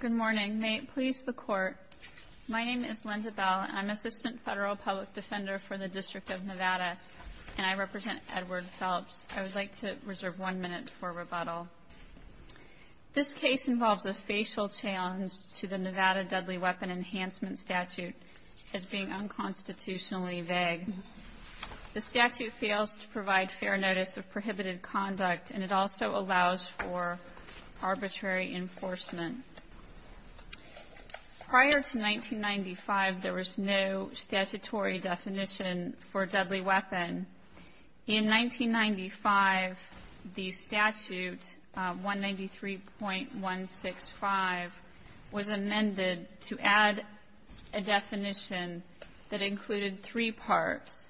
Good morning. May it please the Court, my name is Linda Bell and I'm Assistant Federal Public Defender for the District of Nevada and I represent Edward Phelps. I would like to reserve one minute for rebuttal. This case involves a facial challenge to the Nevada Deadly Weapon Enhancement Statute as being unconstitutionally vague. The statute fails to provide fair notice of prohibited conduct and it also allows for arbitrary enforcement. Prior to 1995, there was no statutory definition for deadly weapon. In 1995, the statute, 193.165, was amended to add a definition that included three parts.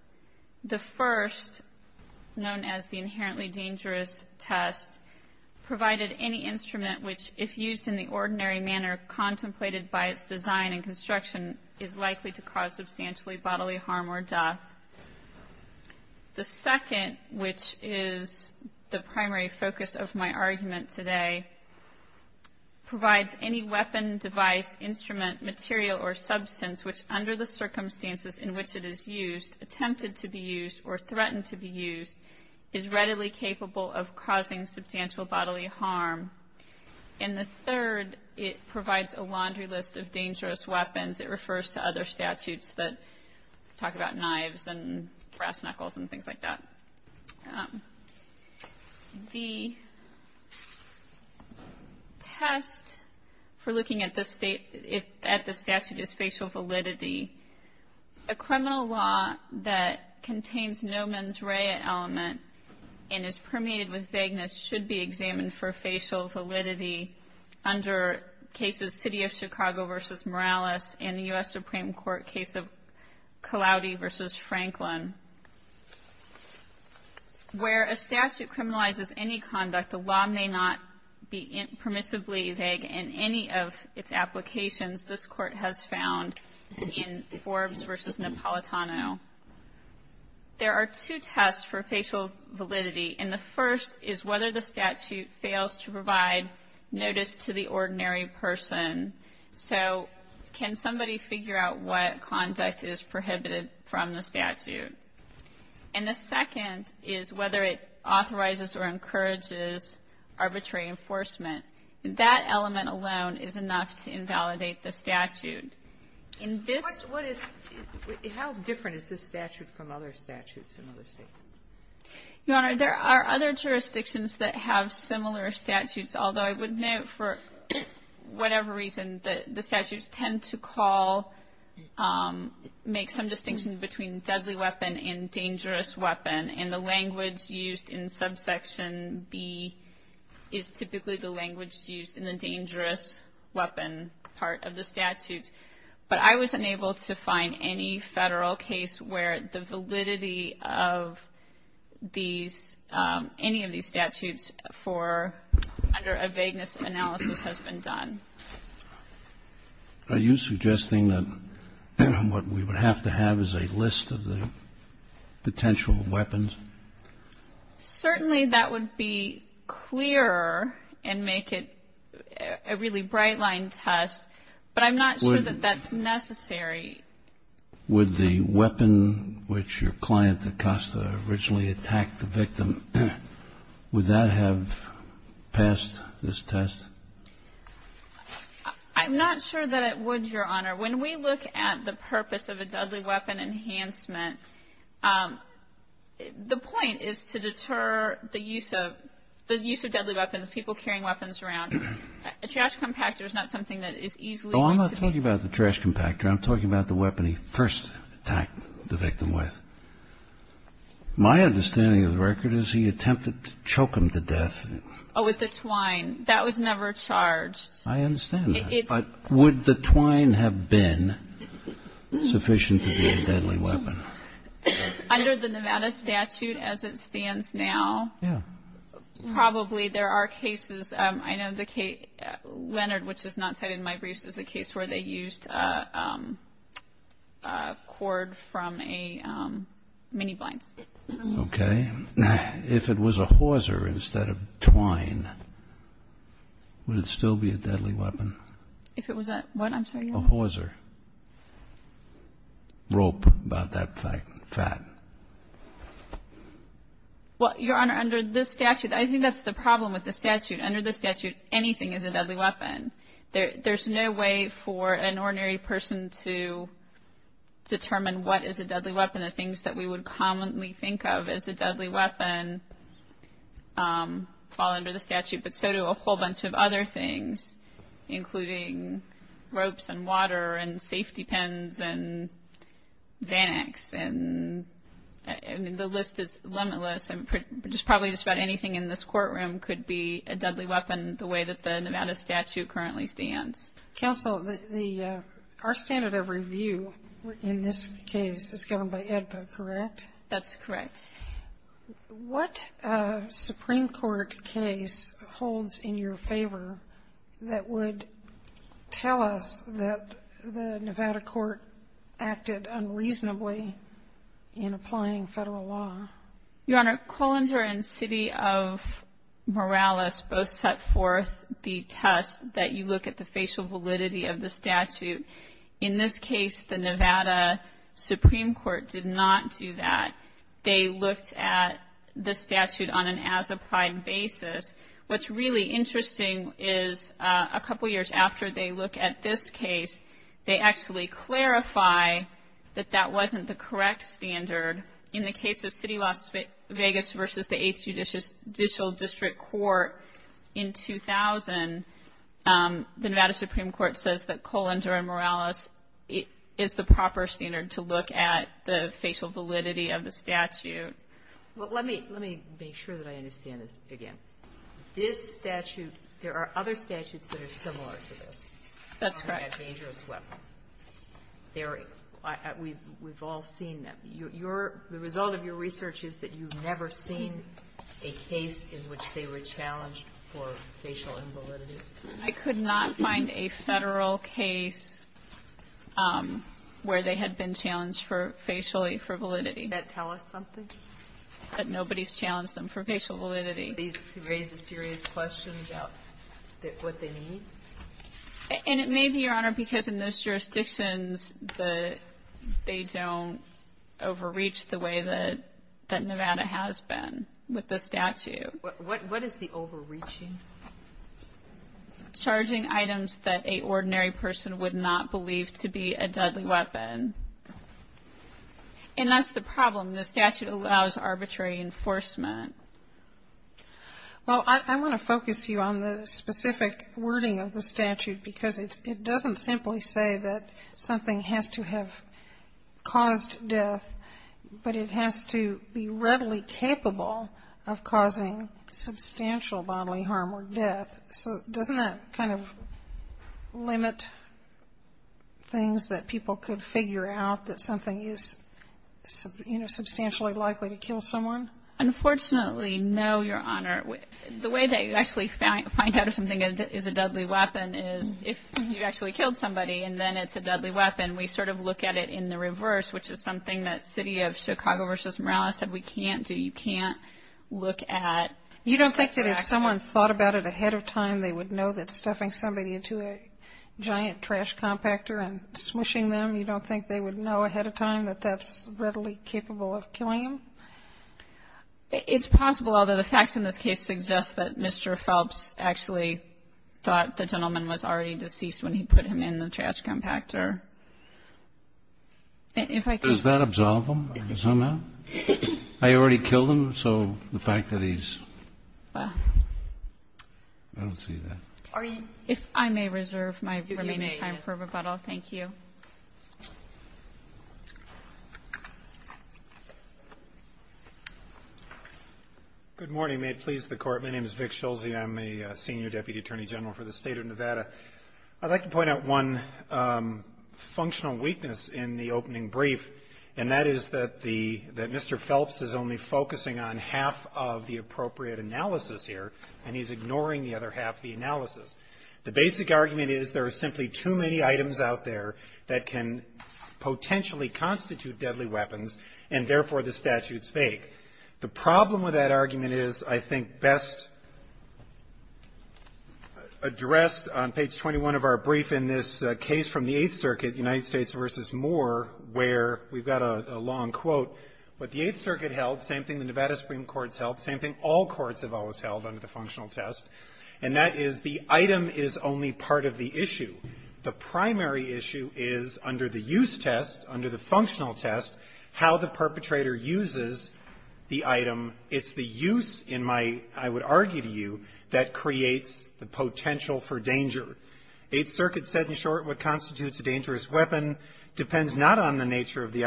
The first, known as the inherently dangerous test, provided any instrument which, if used in the ordinary manner contemplated by its design and construction, is likely to cause substantially bodily harm or death. The second, which is the primary focus of my argument today, provides any weapon, device, instrument, material or substance which, under the circumstances in which it is used, attempted to be used or threatened to be used, is readily capable of causing substantial bodily harm. And the third, it provides a laundry list of dangerous weapons. It refers to other statutes that talk about knives and brass knuckles and things like that. The test for looking at the statute is facial validity. A criminal law that contains no mens rea element and is permeated with vagueness should be examined for facial validity under court cases City of Chicago v. Morales and the U.S. Supreme Court case of Cullauty v. Franklin. Where a statute criminalizes any conduct, the law may not be permissibly vague in any of its applications this Court has found in Forbes v. Napolitano. There are two tests for facial validity, and the first is whether the statute fails to provide notice to the ordinary person. So can somebody figure out what conduct is prohibited from the statute? And the second is whether it authorizes or encourages arbitrary enforcement. That element alone is enough to invalidate the statute. In this ---- Kagan. What is ---- How different is this statute from other statutes in other States? Your Honor, there are other jurisdictions that have similar statutes, although I would note for whatever reason that the statutes tend to call, make some distinction between deadly weapon and dangerous weapon, and the language used in subsection B is typically the language used in the dangerous weapon part of the statute. But I was unable to find any Federal case where the validity of these, any of these statutes for under a vagueness analysis has been done. Are you suggesting that what we would have to have is a list of the potential weapons? Certainly that would be clearer and make it a really bright-line test, but I'm not sure that that's necessary. Would the weapon which your client, Acosta, originally attacked the victim, would that have passed this test? I'm not sure that it would, Your Honor. When we look at the purpose of a deadly weapon enhancement, the point is to deter the use of deadly weapons, people carrying weapons around. A trash compactor is not something that is easily ---- Well, I'm not talking about the trash compactor. I'm talking about the weapon he first attacked the victim with. My understanding of the record is he attempted to choke him to death. Oh, with the twine. That was never charged. I understand that. But would the twine have been sufficient to be a deadly weapon? Under the Nevada statute as it stands now, probably there are cases. I know that Kate has a case where they used a cord from a mini-blinds. Okay. If it was a hauser instead of twine, would it still be a deadly weapon? If it was a what? I'm sorry, Your Honor? A hauser. Rope about that fat. Well, Your Honor, under this statute, I think that's the problem with the statute. Under the statute, anything is a deadly weapon. There's no way for an ordinary person to determine what is a deadly weapon. The things that we would commonly think of as a deadly weapon fall under the statute, but so do a whole bunch of other things, including ropes and water and safety pins and Xanax. The list is limitless. Just probably just about anything in this courtroom could be a deadly weapon the way that the Nevada statute currently stands. Counsel, our standard of review in this case is governed by AEDPA, correct? That's correct. What Supreme Court case holds in your favor that would tell us that the Nevada court acted unreasonably in applying federal law? Your Honor, Colander and City of Morales both set forth the test that you look at the facial validity of the statute. In this case, the Nevada Supreme Court did not do that. They looked at the statute on an as-applied basis. What's really interesting is a couple years after they look at this case, they actually clarify that that wasn't the correct standard. In the case of City of Las Vegas v. the 8th Judicial District Court in 2000, the Nevada Supreme Court says that Colander and Morales is the proper standard to look at the facial validity of the statute. Well, let me make sure that I understand this again. This statute, there are other statutes that are similar to this. That's correct. That's a dangerous weapon. We've all seen them. The result of your research is that you've never seen a case in which they were challenged for facial invalidity. I could not find a Federal case where they had been challenged for, facially, for validity. Does that tell us something? That nobody's challenged them for facial validity. Do these raise a serious question about what they mean? And it may be, Your Honor, because in those jurisdictions, they don't overreach the way that Nevada has been with the statute. What is the overreaching? Charging items that an ordinary person would not believe to be a deadly weapon. And that's the problem. The statute allows arbitrary enforcement. Well, I want to focus you on the specific wording of the statute because it doesn't simply say that something has to have caused death, but it has to be readily capable of causing substantial bodily harm or death. So doesn't that kind of limit things that people could figure out that something is, you know, substantially likely to kill someone? Unfortunately, no, Your Honor. The way that you actually find out if something is a deadly weapon is if you actually killed somebody and then it's a deadly weapon, we sort of look at it in the reverse, which is something that City of Chicago v. Morales said we can't do. You can't look at the accident. You don't think that if someone thought about it ahead of time, they would know that stuffing somebody into a giant trash compactor and smushing them, you don't think they would know ahead of time that that's readily capable of killing them? It's possible, although the facts in this case suggest that Mr. Phelps actually thought the gentleman was already deceased when he put him in the trash compactor. If I could... Does that absolve him? I already killed him, so the fact that he's... I don't see that. If I may reserve my remaining time for rebuttal, thank you. Thank you. Good morning. May it please the Court, my name is Vic Schulze. I'm a Senior Deputy Attorney General for the State of Nevada. I'd like to point out one functional weakness in the opening brief, and that is that Mr. Phelps is only focusing on half of the appropriate analysis here and he's ignoring the other half of the analysis. The basic argument is there are simply too many items out there that can potentially constitute deadly weapons and, therefore, the statute's fake. The problem with that argument is, I think, best addressed on page 21 of our brief in this case from the Eighth Circuit, United States v. Moore, where we've got a long quote, but the Eighth Circuit held the same thing the Nevada Supreme Court held, same thing all courts have always held under the functional test, and that is the item is only part of the issue. The primary issue is under the use test, under the functional test, how the perpetrator uses the item. It's the use in my, I would argue to you, that creates the potential for danger. Eighth Circuit said in short, what constitutes a dangerous weapon depends not on the nature of its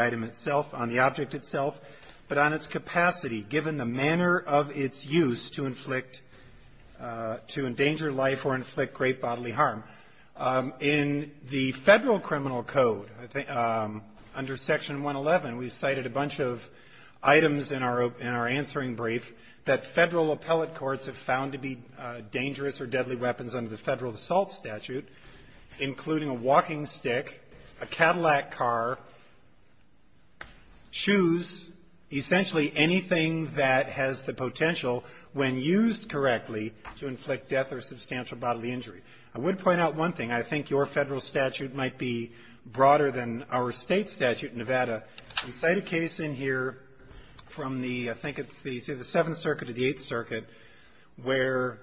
use to inflict, to endanger life or inflict great bodily harm. In the Federal Criminal Code, under Section 111, we cited a bunch of items in our answering brief that Federal appellate courts have found to be dangerous or deadly weapons under the Federal Assault Statute, including a walking stick, a Cadillac car, shoes, essentially anything that has the potential when used correctly to inflict death or substantial bodily injury. I would point out one thing. I think your Federal statute might be broader than our State statute in Nevada. We cite a case in here from the, I think it's the Seventh Circuit or the Eighth Circuit, where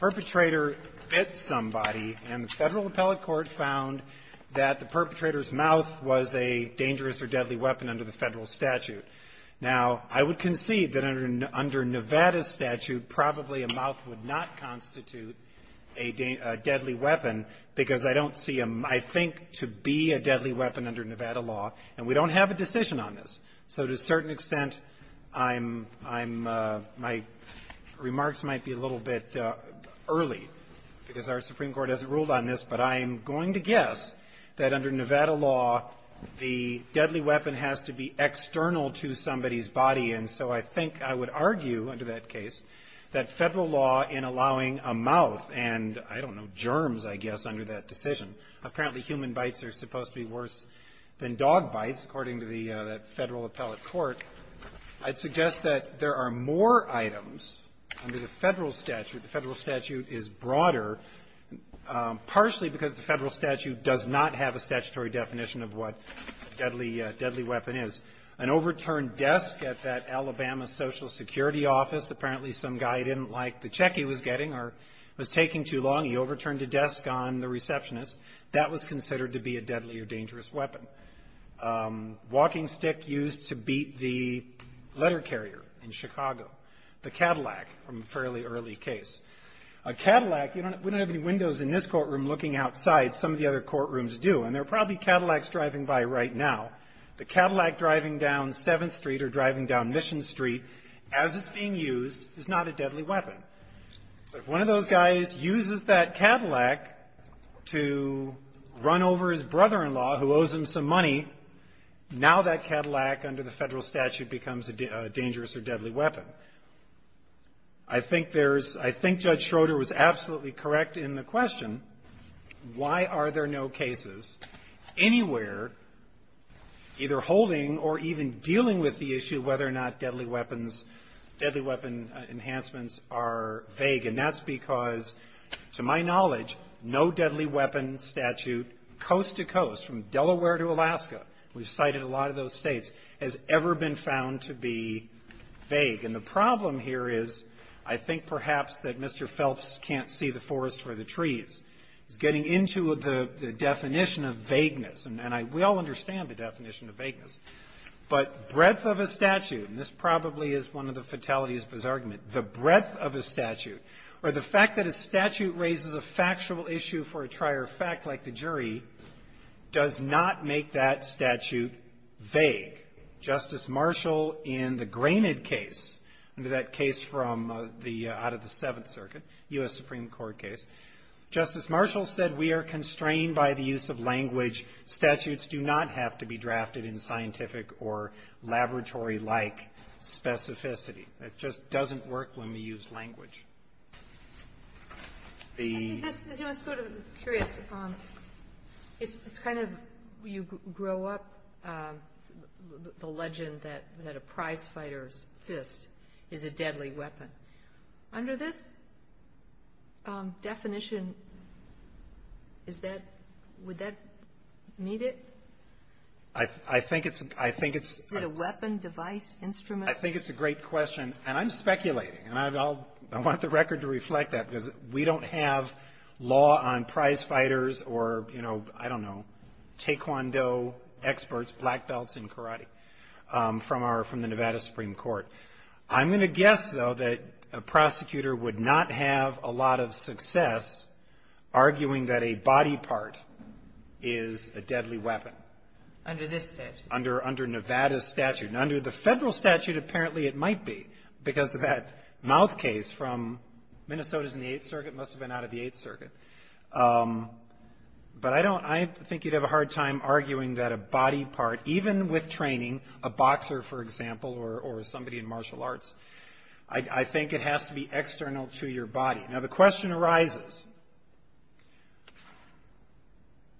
a mouth was a dangerous or deadly weapon under the Federal statute. Now, I would concede that under Nevada's statute, probably a mouth would not constitute a deadly weapon because I don't see a, I think, to be a deadly weapon under Nevada law, and we don't have a decision on this. So to a certain extent, I'm, my remarks might be a little bit early because our Supreme Court hasn't ruled on this, but I'm going to guess that under Nevada law, the deadly weapon has to be external to somebody's body, and so I think I would argue under that case that Federal law in allowing a mouth and, I don't know, germs, I guess, under that decision apparently human bites are supposed to be worse than dog bites according to the Federal appellate court, I'd suggest that there are more items under the Federal statute. The Federal statute is broader, partially because the Federal statute does not have a statutory definition of what a deadly weapon is. An overturned desk at that Alabama to be a deadly or dangerous weapon. Walking stick used to beat the letter carrier in Chicago. The Cadillac from a fairly early case. A Cadillac, we don't have any windows in this courtroom looking outside, some of the other courtrooms do, and there are probably Cadillacs driving by right now. The Cadillac driving down 7th Street or driving down Mission Street as it's being used is not a deadly weapon. If one of those guys uses that Cadillac to run over his brother-in-law who owes him some money, now that Cadillac under the Federal statute becomes a dangerous or deadly weapon. I think there's – I think Judge Schroeder was absolutely correct in the question, why are there no cases anywhere either holding or even dealing with the issue whether or not deadly weapons, deadly weapon enhancements are vague. And that's because, to my knowledge, no deadly weapon statute coast-to-coast, from Delaware to Alaska, we've cited a lot of those States, has ever been found to be vague. And the problem here is I think perhaps that Mr. Phelps can't see the breadth of a statute, and this probably is one of the fatalities of his argument, the breadth of a statute, or the fact that a statute raises a factual issue for a trier of fact like the jury does not make that statute vague. Justice Marshall in the Granite case, that case from the – out of the Seventh Circuit, U.S. Supreme It just doesn't work when we use language. The ---- Kagan. I think this is sort of curious. It's kind of you grow up the legend that a prizefighter's fist is a deadly weapon. Under this definition, is that – would that meet it? I think it's – I think it's ---- I think it's a great question, and I'm speculating, and I want the record to reflect that, because we don't have law on prizefighters or, you know, I don't know, taekwondo experts, black belts in karate, from our – from the Nevada Supreme Court. I'm going to guess, though, that a prosecutor would not have a lot of success arguing that a body part is a deadly weapon. Under this statute. Under Nevada's statute. And under the Federal statute, apparently it might be, because of that mouth case from Minnesota's in the Eighth Circuit, must have been out of the Eighth Circuit. But I don't – I think you'd have a hard time arguing that a body part, even with training, a boxer, for example, or somebody in martial arts, I think it has to be external to your body. Now, the question arises,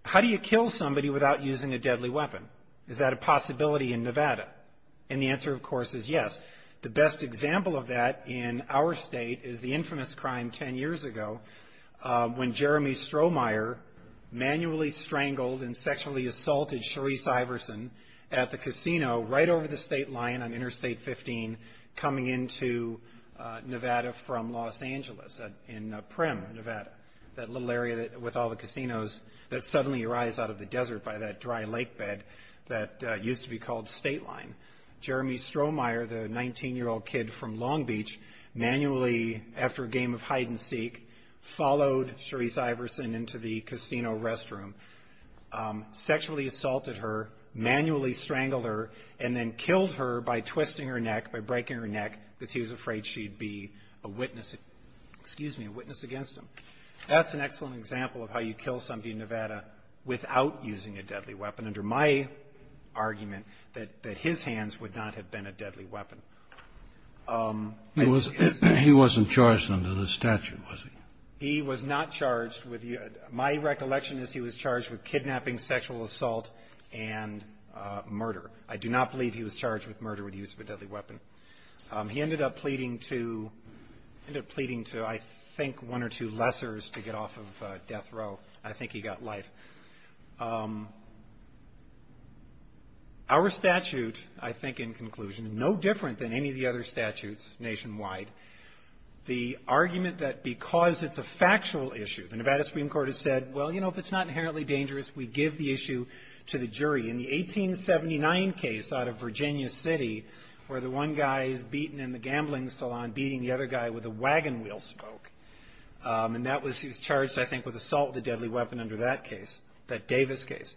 how do you kill somebody without using a deadly weapon? Is that a possibility in Nevada? And the answer, of course, is yes. The best example of that in our state is the infamous crime 10 years ago when Jeremy Strohmeyer manually strangled and sexually assaulted Sharice Iverson at the casino right over the state line on Interstate 15, coming into Nevada from Los Angeles, in Primm, Nevada. That little area with all the casinos that suddenly arise out of the desert by that dry lake bed that used to be called State Line. Jeremy Strohmeyer, the 19-year-old kid from Long Beach, manually, after a game of hide-and-seek, followed Sharice Iverson into the casino restroom, sexually assaulted her, manually strangled her, and then killed her by twisting her neck, by breaking her neck, because he was afraid she'd be a witness against him. That's an excellent example of how you kill somebody in Nevada without using a deadly weapon, under my argument that his hands would not have been a deadly weapon. I think he has to be. He wasn't charged under the statute, was he? He was not charged with the — my recollection is he was charged with kidnapping, sexual assault, and murder. I do not believe he was charged with murder with the use of a deadly weapon. He ended up pleading to — ended up pleading to, I think, one or two lessors to get off of death row. I think he got life. Our statute, I think, in conclusion, no different than any of the other statutes nationwide, the argument that because it's a factual issue, the Nevada Supreme Court has said, well, you know, if it's not inherently dangerous, we give the issue to the jury. In the 1879 case out of Virginia City, where the one guy is beaten in the gambling salon, beating the other guy with a wagon wheel spoke, and that was — the deadly weapon under that case, that Davis case.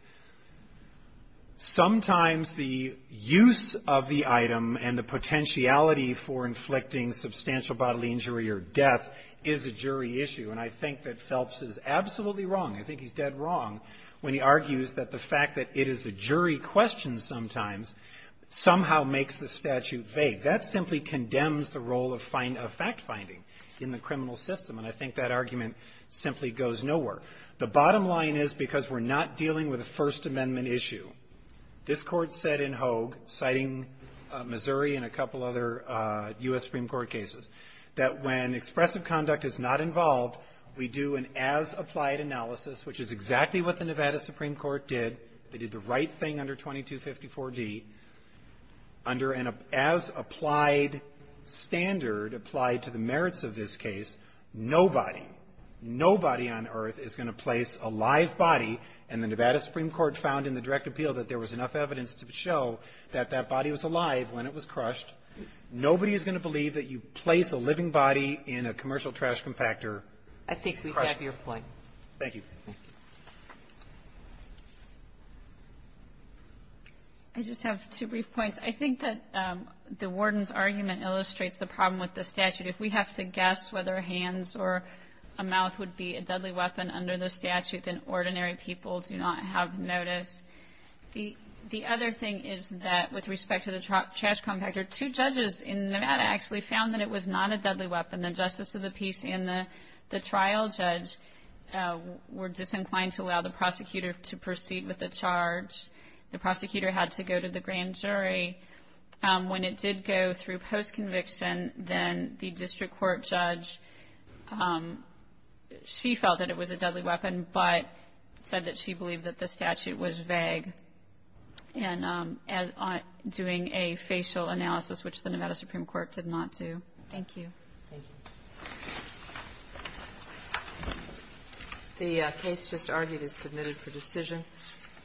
Sometimes the use of the item and the potentiality for inflicting substantial bodily injury or death is a jury issue. And I think that Phelps is absolutely wrong. I think he's dead wrong when he argues that the fact that it is a jury question sometimes somehow makes the statute vague. That simply condemns the role of fact-finding in the criminal system. And I think that argument simply goes nowhere. The bottom line is, because we're not dealing with a First Amendment issue, this Court said in Hogue, citing Missouri and a couple other U.S. Supreme Court cases, that when expressive conduct is not involved, we do an as-applied analysis, which is exactly what the Nevada Supreme Court did. They did the right thing under 2254d. Under an as-applied standard, applied to the merits of this case, nobody, nobody on earth is going to place a live body, and the Nevada Supreme Court found in the direct appeal that there was enough evidence to show that that body was alive when it was crushed. Nobody is going to believe that you place a living body in a commercial trash compactor. I think we have your point. Thank you. I just have two brief points. I think that the warden's argument illustrates the problem with the statute. If we have to guess whether hands or a mouth would be a deadly weapon under the statute, then ordinary people do not have notice. The other thing is that with respect to the trash compactor, two judges in Nevada actually found that it was not a deadly weapon. And the justice of the peace and the trial judge were disinclined to allow the prosecutor to proceed with the charge. The prosecutor had to go to the grand jury. When it did go through post-conviction, then the district court judge, she felt that it was a deadly weapon, but said that she believed that the statute was vague and doing a facial analysis, which the Nevada Supreme Court did not do. Thank you. Thank you. The case just argued is submitted for decision.